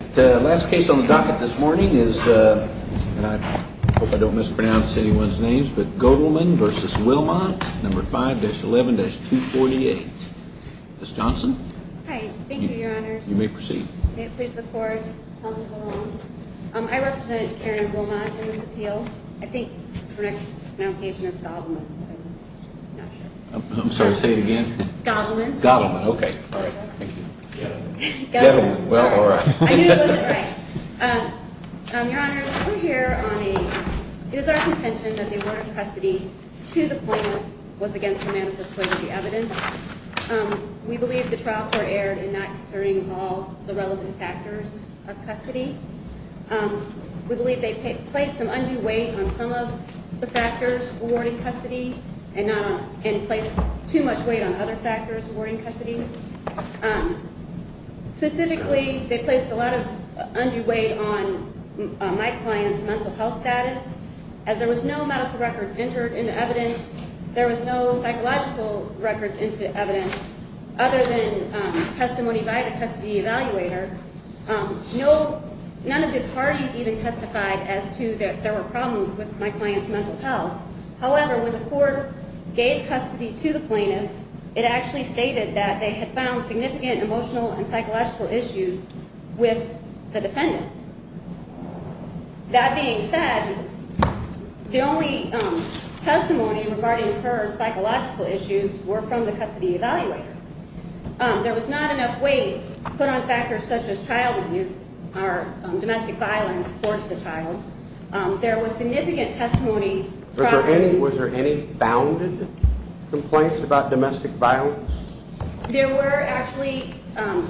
The last case on the docket this morning is, and I hope I don't mispronounce anyone's names, but Goedelmann v. Willmont, No. 5-11-248. Ms. Johnson? Hi. Thank you, Your Honors. You may proceed. May it please the Court? I represent Karen Willmont in this appeal. I think the correct pronunciation is Goedelmann, but I'm not sure. I'm sorry, say it again. Goedelmann. Goedelmann. Okay. Goedelmann. Goedelmann. Goedelmann. Goedelmann. I knew it was a lie. Your Honors, we're here on a – it is our contention that the award of custody to the plaintiff was against her manifesto as the evidence. We believe the trial court erred in not considering all the relevant factors of custody. We believe they placed some undue weight on some of the factors awarding custody and placed too much weight on other factors awarding custody. Specifically, they placed a lot of undue weight on my client's mental health status. As there was no medical records entered into evidence, there was no psychological records into evidence other than testimony by the custody evaluator. None of the parties even testified as to that there were problems with my client's mental health. However, when the court gave custody to the plaintiff, it actually stated that they had found significant emotional and psychological issues with the defendant. That being said, the only testimony regarding her psychological issues were from the custody evaluator. There was not enough weight put on factors such as child abuse or domestic violence towards the child. There was significant testimony – Was there any founded complaints about domestic violence? There were actually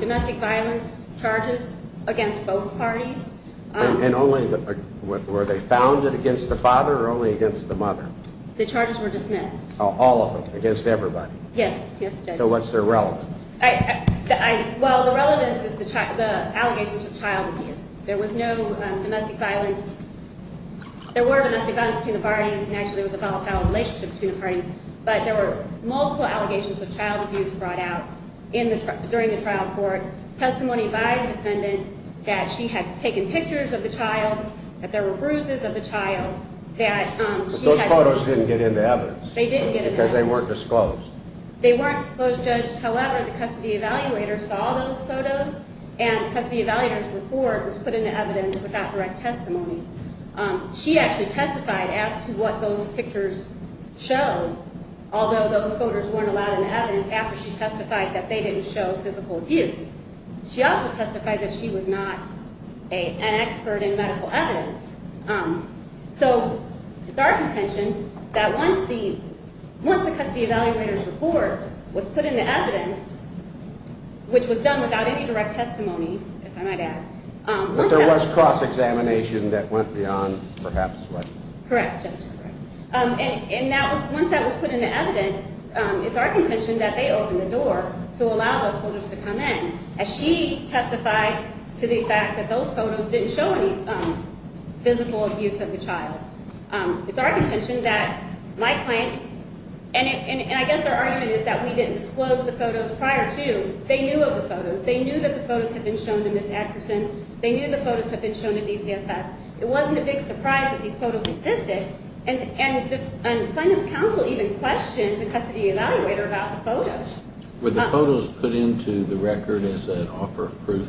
domestic violence charges against both parties. And only – were they founded against the father or only against the mother? The charges were dismissed. All of them? Against everybody? Yes. So what's their relevance? Well, the relevance is the allegations of child abuse. There was no domestic violence. There were domestic violence between the parties, and actually it was a volatile relationship between the parties. But there were multiple allegations of child abuse brought out during the trial court. Testimony by the defendant that she had taken pictures of the child, that there were bruises of the child, that she had – But those photos didn't get into evidence. They didn't get into evidence. Because they weren't disclosed. They weren't disclosed, Judge. However, the custody evaluator saw those photos, and the custody evaluator's report was put into evidence without direct testimony. She actually testified as to what those pictures showed, although those photos weren't allowed into evidence after she testified that they didn't show physical abuse. She also testified that she was not an expert in medical evidence. So it's our contention that once the custody evaluator's report was put into evidence, which was done without any direct testimony, if I might add – But there was cross-examination that went beyond perhaps what – Correct, Judge. And once that was put into evidence, it's our contention that they opened the door to allow those photos to come in. As she testified to the fact that those photos didn't show any physical abuse of the child. It's our contention that my client – And I guess their argument is that we didn't disclose the photos prior to. They knew of the photos. They knew that the photos had been shown to Ms. Atkerson. They knew the photos had been shown to DCFS. It wasn't a big surprise that these photos existed. Were the photos put into the record as an offer of proof?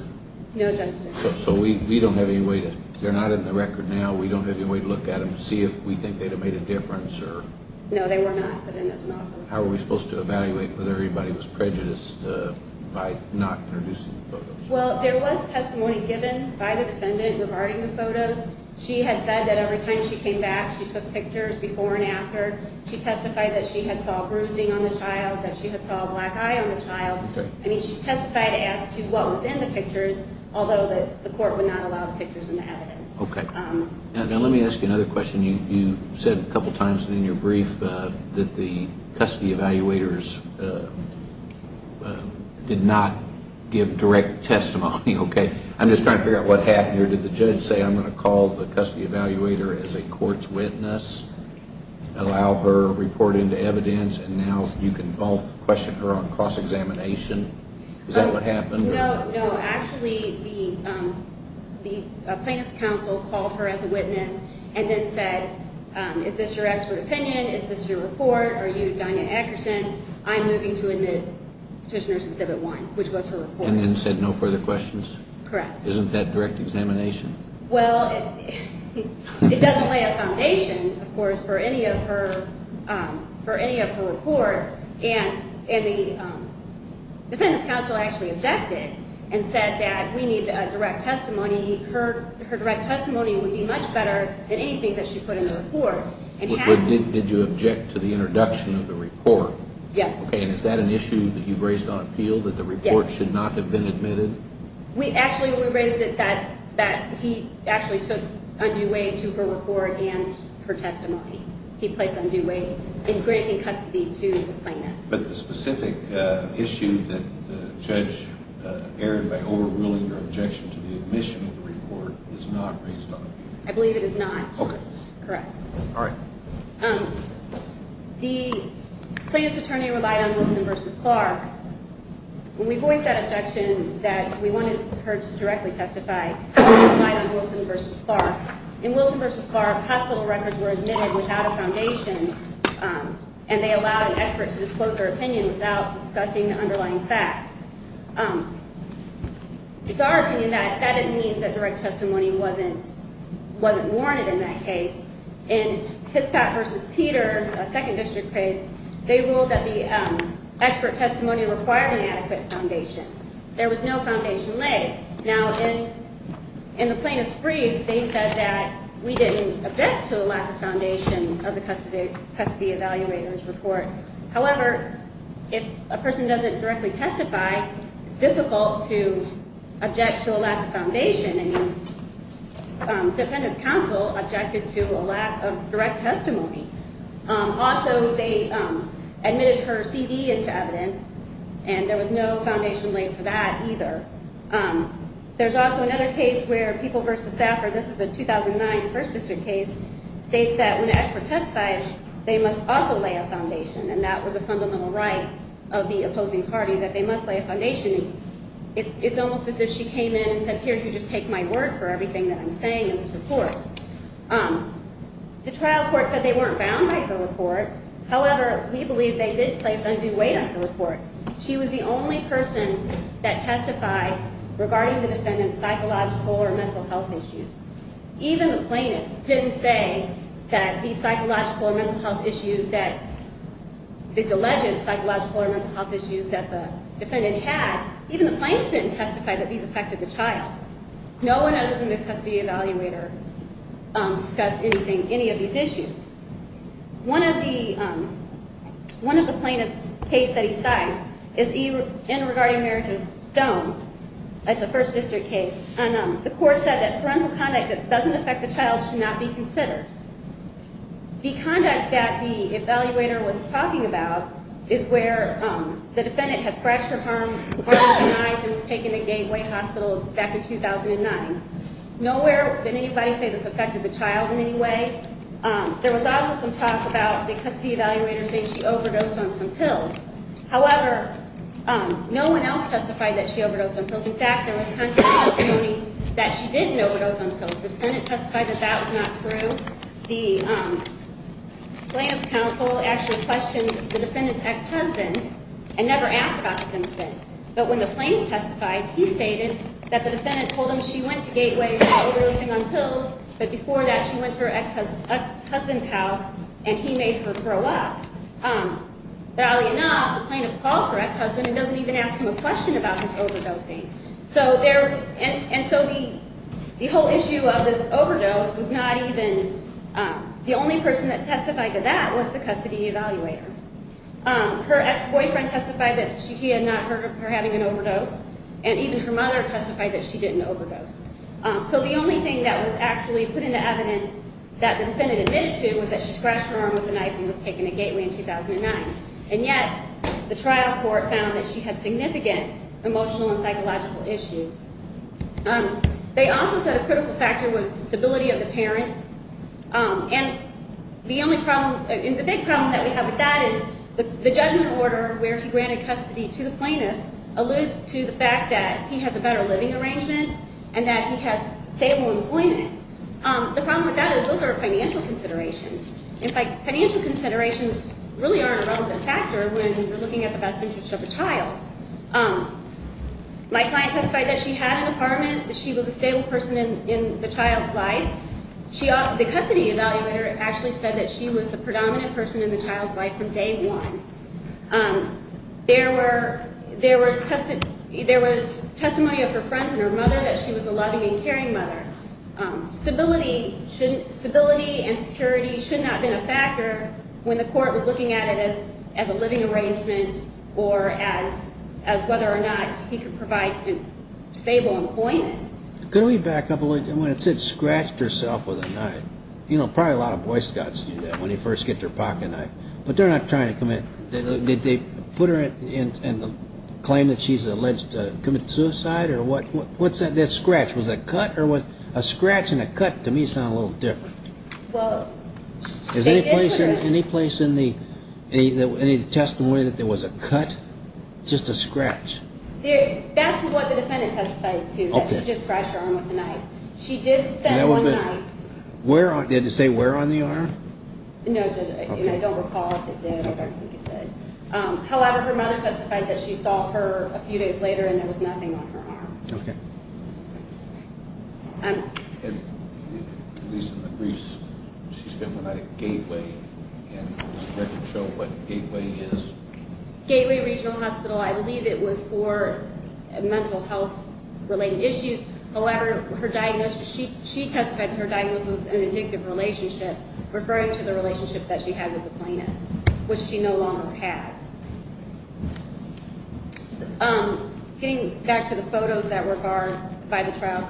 No, Judge. So we don't have any way to – they're not in the record now. We don't have any way to look at them to see if we think they'd have made a difference or – No, they were not put in as an offer of proof. How are we supposed to evaluate whether anybody was prejudiced by not introducing the photos? Well, there was testimony given by the defendant regarding the photos. She had said that every time she came back, she took pictures before and after. She testified that she had saw bruising on the child, that she had saw a black eye on the child. Okay. I mean, she testified as to what was in the pictures, although the court would not allow the pictures in the evidence. Okay. Now let me ask you another question. You said a couple times in your brief that the custody evaluators did not give direct testimony. Okay. I'm just trying to figure out what happened here. Did the judge say, I'm going to call the custody evaluator as a court's witness, allow her to report into evidence, and now you can both question her on cross-examination? Is that what happened? No, no. Actually, the plaintiff's counsel called her as a witness and then said, is this your expert opinion, is this your report, are you Dianna Ackerson? I'm moving to admit Petitioner Exhibit 1, which was her report. And then said no further questions? Correct. Isn't that direct examination? Well, it doesn't lay a foundation, of course, for any of her reports. And the defendant's counsel actually objected and said that we need direct testimony. Her direct testimony would be much better than anything that she put in the report. Did you object to the introduction of the report? Yes. Okay. And is that an issue that you've raised on appeal, that the report should not have been admitted? We actually raised it that he actually took undue weight to her report and her testimony. He placed undue weight in granting custody to the plaintiff. But the specific issue that the judge erred by overruling her objection to the admission of the report is not raised on appeal? I believe it is not. Okay. Correct. The plaintiff's attorney relied on Wilson v. Clark. When we voiced that objection that we wanted her to directly testify, we relied on Wilson v. Clark. In Wilson v. Clark, hospital records were admitted without a foundation, and they allowed an expert to disclose their opinion without discussing the underlying facts. It's our opinion that that didn't mean that direct testimony wasn't warranted in that case. In Hispat v. Peters, a second district case, they ruled that the expert testimony required an adequate foundation. There was no foundation laid. Now, in the plaintiff's brief, they said that we didn't object to a lack of foundation of the custody evaluator's report. However, if a person doesn't directly testify, it's difficult to object to a lack of foundation. I mean, defendant's counsel objected to a lack of direct testimony. Also, they admitted her C.D. into evidence, and there was no foundation laid for that either. There's also another case where People v. Safford, this is a 2009 first district case, states that when an expert testifies, they must also lay a foundation, and that was a fundamental right of the opposing party, that they must lay a foundation. It's almost as if she came in and said, here, you just take my word for everything that I'm saying in this report. The trial court said they weren't bound by the report. However, we believe they did place undue weight on the report. She was the only person that testified regarding the defendant's psychological or mental health issues. Even the plaintiff didn't say that these psychological or mental health issues that, these alleged psychological or mental health issues that the defendant had, even the plaintiff didn't testify that these affected the child. No one has in the custody evaluator discussed anything, any of these issues. One of the plaintiff's case that he cites is in regarding marriage of stone. It's a first district case. And the court said that parental conduct that doesn't affect the child should not be considered. The conduct that the evaluator was talking about is where the defendant had scratched her arm, harmed her eye, and was taken to Gateway Hospital back in 2009. Nowhere did anybody say this affected the child in any way. There was also some talk about the custody evaluator saying she overdosed on some pills. However, no one else testified that she overdosed on pills. In fact, there was testimony that she didn't overdose on pills. The defendant testified that that was not true. The plaintiff's counsel actually questioned the defendant's ex-husband and never asked about this incident. But when the plaintiff testified, he stated that the defendant told him she went to Gateway without overdosing on pills, but before that she went to her ex-husband's house and he made her throw up. But oddly enough, the plaintiff calls her ex-husband and doesn't even ask him a question about his overdosing. And so the whole issue of this overdose was not even the only person that testified to that was the custody evaluator. Her ex-boyfriend testified that he had not heard of her having an overdose, and even her mother testified that she didn't overdose. So the only thing that was actually put into evidence that the defendant admitted to was that she scratched her arm with a knife and was taken to Gateway in 2009. And yet the trial court found that she had significant emotional and psychological issues. They also said a critical factor was stability of the parents. And the big problem that we have with that is the judgment order where he granted custody to the plaintiff alludes to the fact that he has a better living arrangement and that he has stable employment. And the problem with that is those are financial considerations. In fact, financial considerations really aren't a relevant factor when you're looking at the best interest of a child. My client testified that she had an apartment, that she was a stable person in the child's life. The custody evaluator actually said that she was the predominant person in the child's life from day one. There was testimony of her friends and her mother that she was a loving and caring mother. Stability and security should not have been a factor when the court was looking at it as a living arrangement or as whether or not he could provide stable employment. Could we back up a little bit? When it said scratched herself with a knife, you know, probably a lot of Boy Scouts do that when they first get their pocketknife. But they're not trying to commit. Did they put her in and claim that she's alleged to have committed suicide or what? What's that scratch? Was that cut or was a scratch and a cut to me sound a little different? Well, they did put her in. Is there any place in the testimony that there was a cut, just a scratch? That's what the defendant testified to, that she just scratched her arm with a knife. She did spend one night. Did it say where on the arm? No, it didn't, and I don't recall if it did. I don't think it did. However, her mother testified that she saw her a few days later and there was nothing on her arm. Okay. At least in the briefs, she spent one night at Gateway. And does the record show what Gateway is? Gateway Regional Hospital. I believe it was for mental health-related issues. She testified her diagnosis was an addictive relationship, referring to the relationship that she had with the plaintiff, which she no longer has. Getting back to the photos that were barred by the trial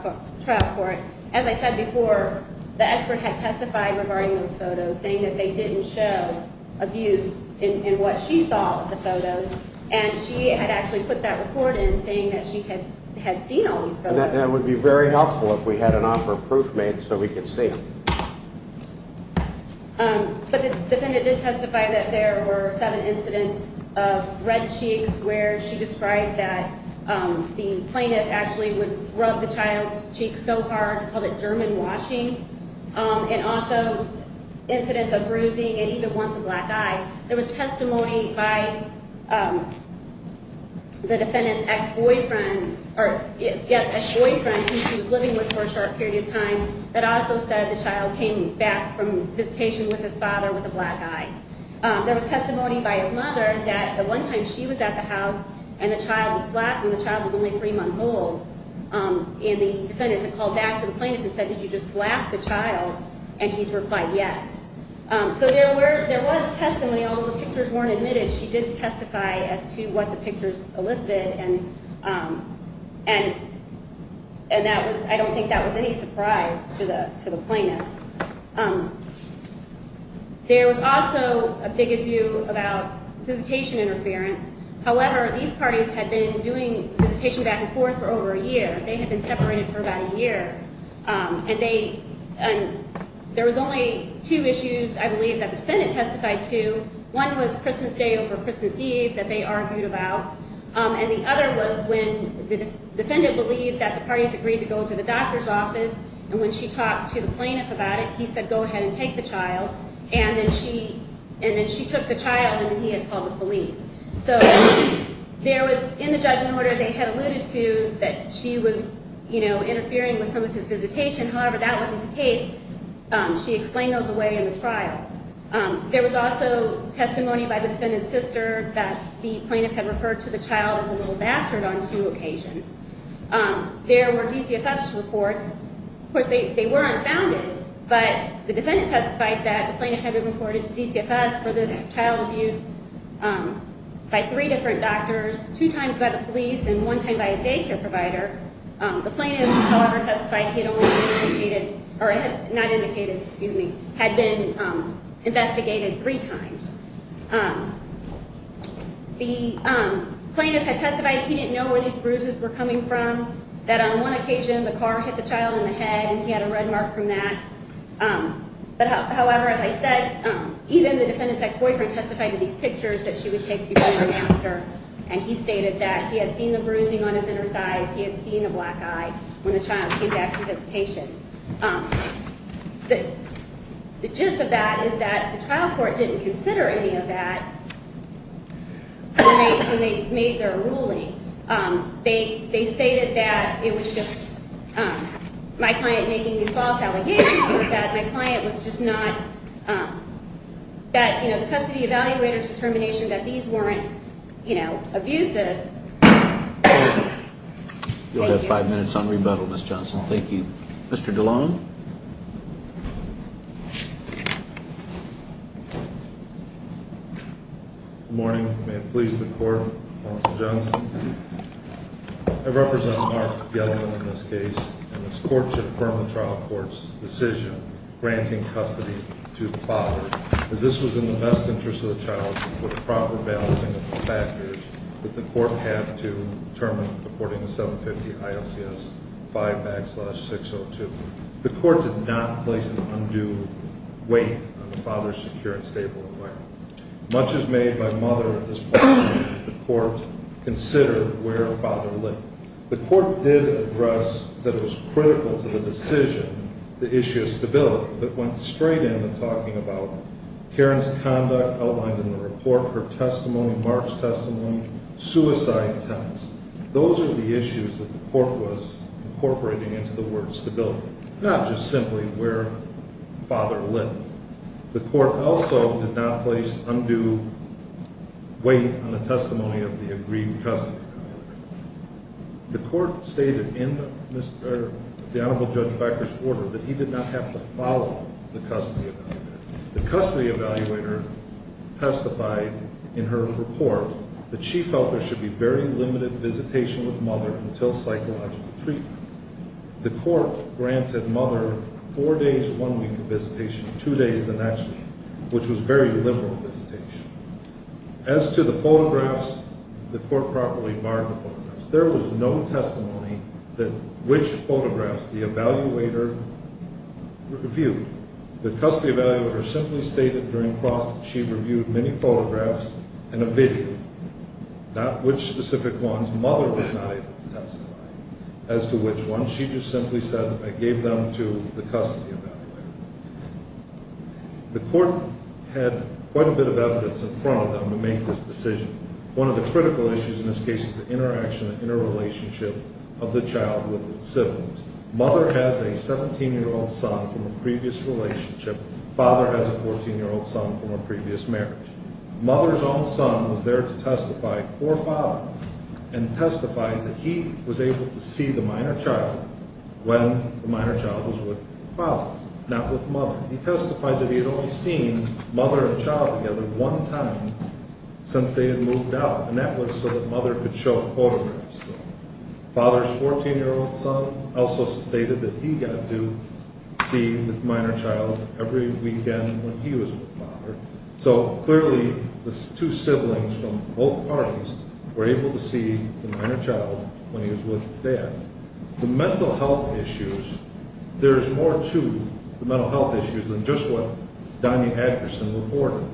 court, as I said before, the expert had testified regarding those photos, saying that they didn't show abuse in what she saw in the photos. And she had actually put that report in, saying that she had seen all these photos. That would be very helpful if we had an offer of proof made so we could see them. But the defendant did testify that there were seven incidents of red cheeks, where she described that the plaintiff actually would rub the child's cheeks so hard, called it German washing, and also incidents of bruising and even once a black eye. There was testimony by the defendant's ex-boyfriend who she was living with for a short period of time that also said the child came back from visitation with his father with a black eye. There was testimony by his mother that the one time she was at the house and the child was slapped and the child was only three months old, and the defendant had called back to the plaintiff and said, did you just slap the child? And he's replied, yes. So there was testimony. All of the pictures weren't admitted. She did testify as to what the pictures elicited, and I don't think that was any surprise to the plaintiff. There was also a big adieu about visitation interference. However, these parties had been doing visitation back and forth for over a year. They had been separated for about a year. And there was only two issues, I believe, that the defendant testified to. One was Christmas Day over Christmas Eve that they argued about, and the other was when the defendant believed that the parties agreed to go to the doctor's office, and when she talked to the plaintiff about it, he said go ahead and take the child, and then she took the child and he had called the police. So there was in the judgment order they had alluded to that she was interfering with some of his visitation. However, that wasn't the case. She explained those away in the trial. There was also testimony by the defendant's sister that the plaintiff had referred to the child as a little bastard on two occasions. There were DCFS reports. Of course, they were unfounded, but the defendant testified that the plaintiff had been reported to DCFS for this child abuse by three different doctors, two times by the police and one time by a daycare provider. The plaintiff, however, testified he had only been indicated, or not indicated, excuse me, had been investigated three times. The plaintiff had testified he didn't know where these bruises were coming from, that on one occasion the car hit the child in the head and he had a red mark from that. However, as I said, even the defendant's ex-boyfriend testified in these pictures that she would take before her doctor, and he stated that he had seen the bruising on his inner thighs, he had seen a black eye when the child came back from visitation. The gist of that is that the trial court didn't consider any of that when they made their ruling. They stated that it was just my client making these false allegations, or that my client was just not, that the custody evaluator's determination that these weren't abusive. You'll have five minutes on rebuttal, Ms. Johnson. Thank you. Mr. DeLong? Good morning. May it please the court, Mr. Johnson. I represent Mark Gettleman in this case, and this courtship firm of the trial court's decision granting custody to the father, as this was in the best interest of the child with proper balancing of the factors that the court had to determine, according to 750 ILCS 5 backslash 602. The court did not place an undue weight on the father's secure and stable environment. Much as made by mother at this point, the court considered where father lived. The court did address that it was critical to the decision, the issue of stability, but went straight into talking about Karen's conduct outlined in the report, her testimony, Mark's testimony, suicide attempts. Those are the issues that the court was incorporating into the word stability, not just simply where father lived. The court also did not place undue weight on the testimony of the agreed custody. The court stated in the honorable Judge Becker's order that he did not have to follow the custody evaluator. The custody evaluator testified in her report that she felt there should be very limited visitation with mother until psychological treatment. The court granted mother four days, one week of visitation, two days the next, which was very liberal visitation. As to the photographs, the court properly barred the photographs. There was no testimony that which photographs the evaluator reviewed. The custody evaluator simply stated during cross that she reviewed many photographs and a video, not which specific ones. Mother was not able to testify as to which ones. She just simply said that I gave them to the custody evaluator. The court had quite a bit of evidence in front of them to make this decision. One of the critical issues in this case is the interaction, the interrelationship of the child with its siblings. Mother has a 17-year-old son from a previous relationship. Father has a 14-year-old son from a previous marriage. Mother's own son was there to testify for father and testify that he was able to see the minor child when the minor child was with father, not with mother. He testified that he had only seen mother and child together one time since they had moved out, and that was so that mother could show photographs. Father's 14-year-old son also stated that he got to see the minor child every weekend when he was with father. So, clearly, the two siblings from both parties were able to see the minor child when he was with dad. The mental health issues, there's more to the mental health issues than just what Donya Adkerson reported.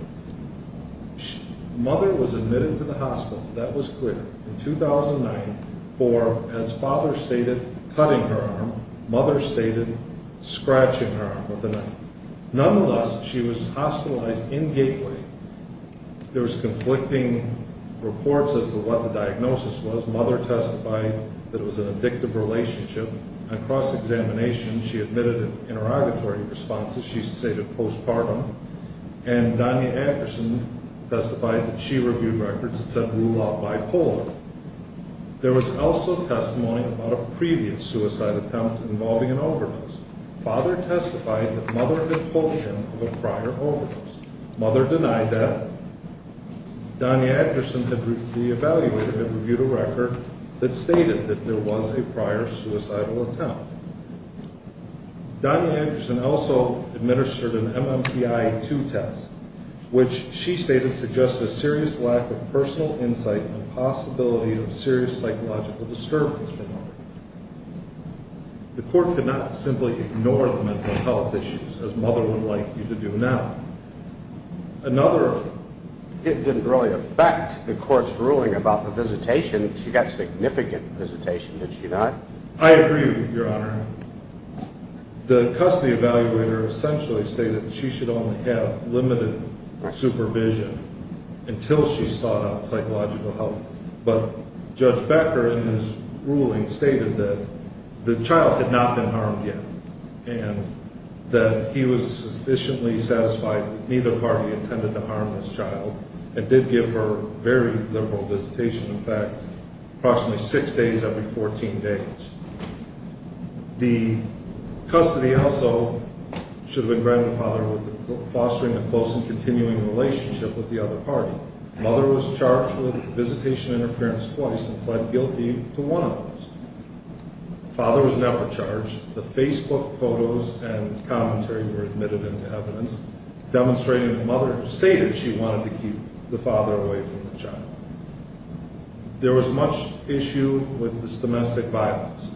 Mother was admitted to the hospital, that was clear, in 2009 for, as father stated, cutting her arm, mother stated scratching her arm with a knife. Nonetheless, she was hospitalized in Gateway. There was conflicting reports as to what the diagnosis was. Mother testified that it was an addictive relationship. On cross-examination, she admitted interrogatory responses, she stated postpartum. And Donya Adkerson testified that she reviewed records that said rule out bipolar. There was also testimony about a previous suicide attempt involving an overdose. Father testified that mother had pulled him of a prior overdose. Mother denied that. Donya Adkerson, the evaluator, had reviewed a record that stated that there was a prior suicidal attempt. Donya Adkerson also administered an MMPI-2 test, which she stated suggested serious lack of personal insight and possibility of serious psychological disturbance from mother. The court could not simply ignore the mental health issues, as mother would like you to do now. Another... It didn't really affect the court's ruling about the visitation. She got significant visitation, did she not? I agree with you, Your Honor. The custody evaluator essentially stated that she should only have limited supervision until she sought out psychological help. But Judge Becker, in his ruling, stated that the child had not been harmed yet and that he was sufficiently satisfied that neither party intended to harm this child. It did give her very liberal visitation effect, approximately six days every 14 days. The custody also should have been granted to father with fostering a close and continuing relationship with the other party. However, mother was charged with visitation interference twice and pled guilty to one of those. Father was never charged. The Facebook photos and commentary were admitted into evidence, demonstrating that mother stated she wanted to keep the father away from the child. There was much issue with this domestic violence.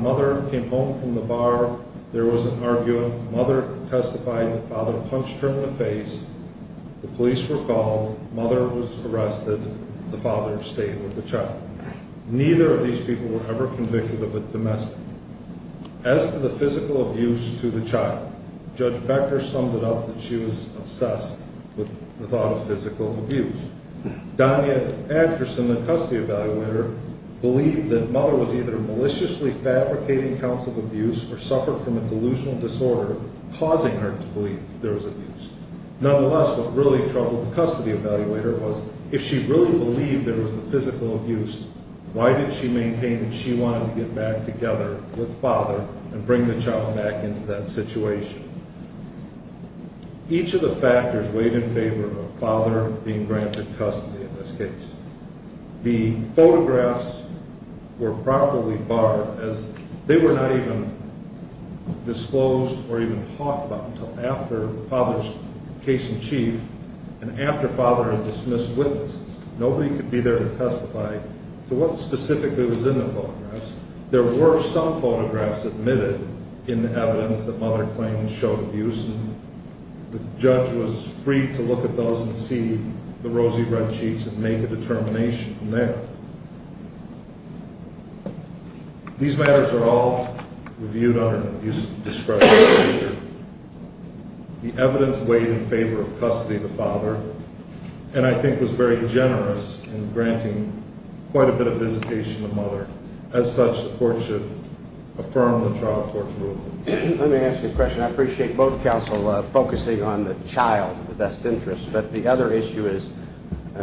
Mother came home from the bar. There was an argument. Mother testified that father punched her in the face. The police were called. Mother was arrested. The father stayed with the child. Neither of these people were ever convicted of a domestic... As to the physical abuse to the child, Judge Becker summed it up that she was obsessed with the thought of physical abuse. Donya Atkerson, the custody evaluator, believed that mother was either maliciously fabricating counts of abuse or suffered from a delusional disorder causing her to believe there was abuse. Nonetheless, what really troubled the custody evaluator was if she really believed there was a physical abuse, why did she maintain that she wanted to get back together with father and bring the child back into that situation? Each of the factors weighed in favor of father being granted custody in this case. The photographs were properly barred as they were not even disclosed or even talked about until after father's case in chief and after father had dismissed witnesses. Nobody could be there to testify to what specifically was in the photographs. There were some photographs admitted in the evidence that mother claimed showed abuse. The judge was free to look at those and see the rosy red cheeks and make a determination from there. These matters are all reviewed under an abuse discretion procedure. The evidence weighed in favor of custody of the father and I think was very generous in granting quite a bit of visitation to mother. As such, the court should affirm the trial court's ruling. Let me ask you a question. I appreciate both counsel focusing on the child of the best interest, but the other issue is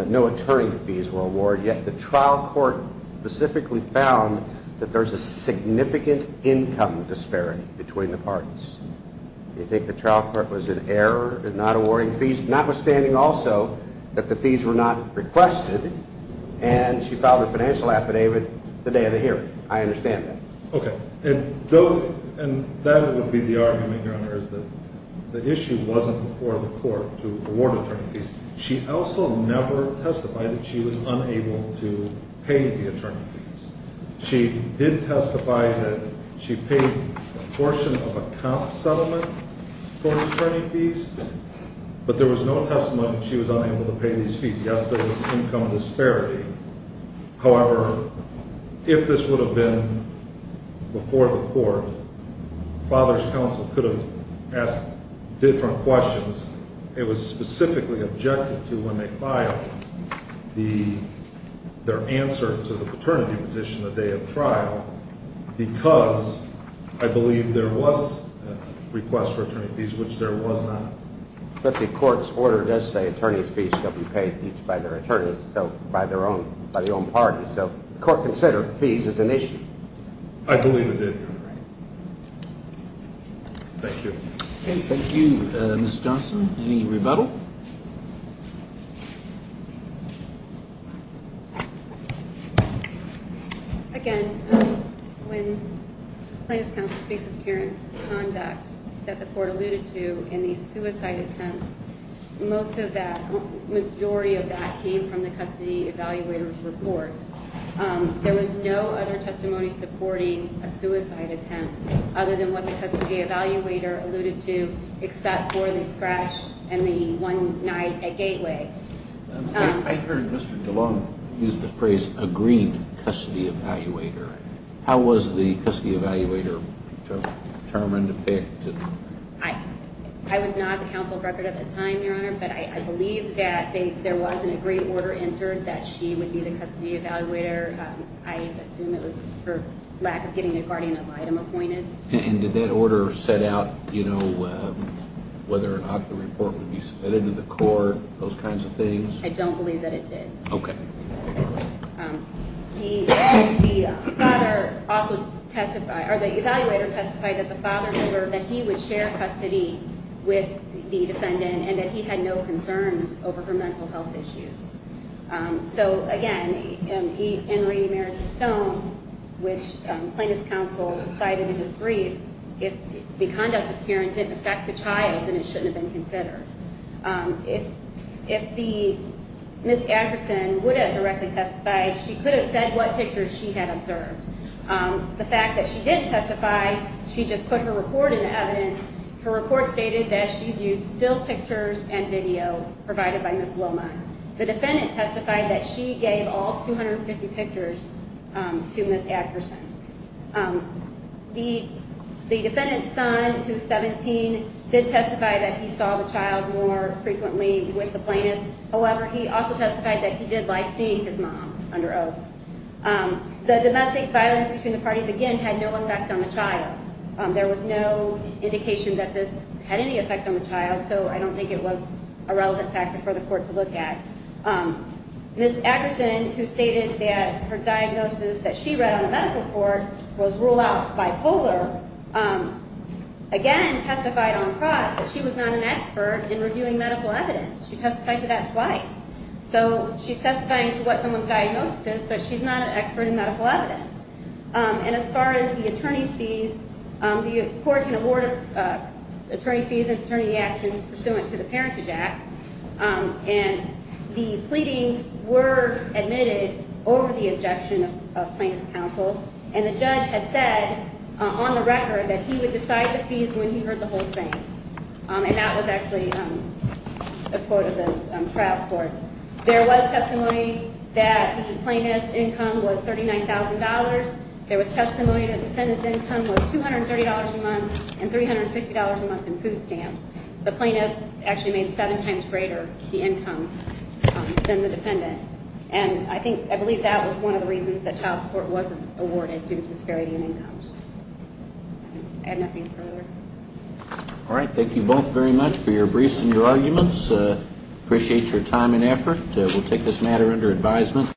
no attorney fees were awarded, yet the trial court specifically found that there's a significant income disparity between the parties. They think the trial court was in error in not awarding fees, notwithstanding also that the fees were not requested, and she filed a financial affidavit the day of the hearing. I understand that. Okay. And that would be the argument, Your Honor, is that the issue wasn't for the court to award attorney fees. She also never testified that she was unable to pay the attorney fees. She did testify that she paid a portion of a comp settlement for attorney fees, but there was no testimony that she was unable to pay these fees. Yes, there was income disparity. However, if this would have been before the court, father's counsel could have asked different questions. It was specifically objected to when they filed their answer to the paternity petition the day of trial because I believe there was a request for attorney fees, which there was not. But the court's order does say attorneys' fees shall be paid each by their attorneys, so by their own, by the own party. So the court considered fees as an issue. I believe it did, Your Honor. Thank you. Okay, thank you, Ms. Johnson. Any rebuttal? No. Again, when plaintiff's counsel speaks of parents' conduct that the court alluded to in these suicide attempts, most of that, majority of that came from the custody evaluator's report. There was no other testimony supporting a suicide attempt other than what the custody evaluator alluded to except for the scratch and the one night at Gateway. I heard Mr. DeLong use the phrase, agreed custody evaluator. How was the custody evaluator determined to pick? I was not the counsel of record at the time, Your Honor, but I believe that there was an agreed order entered that she would be the custody evaluator. I assume it was for lack of getting a guardian of item appointed. And did that order set out, you know, whether or not the report would be submitted to the court, those kinds of things? I don't believe that it did. Okay. The father also testified, or the evaluator testified that the father heard that he would share custody with the defendant and that he had no concerns over her mental health issues. So, again, in Reedy Marriage of Stone, which plaintiff's counsel cited in his brief, if the conduct of the parent didn't affect the child, then it shouldn't have been considered. If Ms. Anderson would have directly testified, she could have said what pictures she had observed. The fact that she didn't testify, she just put her report into evidence. Her report stated that she viewed still pictures and video provided by Ms. Loma. The defendant testified that she gave all 250 pictures to Ms. Anderson. The defendant's son, who's 17, did testify that he saw the child more frequently with the plaintiff. However, he also testified that he did like seeing his mom under oath. The domestic violence between the parties, again, had no effect on the child. There was no indication that this had any effect on the child, so I don't think it was a relevant factor for the court to look at. Ms. Anderson, who stated that her diagnosis that she read on the medical report was rule-out bipolar, again testified on cross that she was not an expert in reviewing medical evidence. She testified to that twice. So she's testifying to what someone's diagnosis is, but she's not an expert in medical evidence. And as far as the attorney's fees, the court can award attorney's fees and attorney actions pursuant to the Parentage Act. And the pleadings were admitted over the objection of plaintiff's counsel, and the judge had said on the record that he would decide the fees when he heard the whole thing. And that was actually a quote of the trial court. There was testimony that the plaintiff's income was $39,000. There was testimony that the defendant's income was $230 a month and $350 a month in food stamps. The plaintiff actually made seven times greater the income than the defendant. And I believe that was one of the reasons that child support wasn't awarded due to disparity in incomes. I have nothing further. All right. Thank you both very much for your briefs and your arguments. Appreciate your time and effort. We'll take this matter under advisement.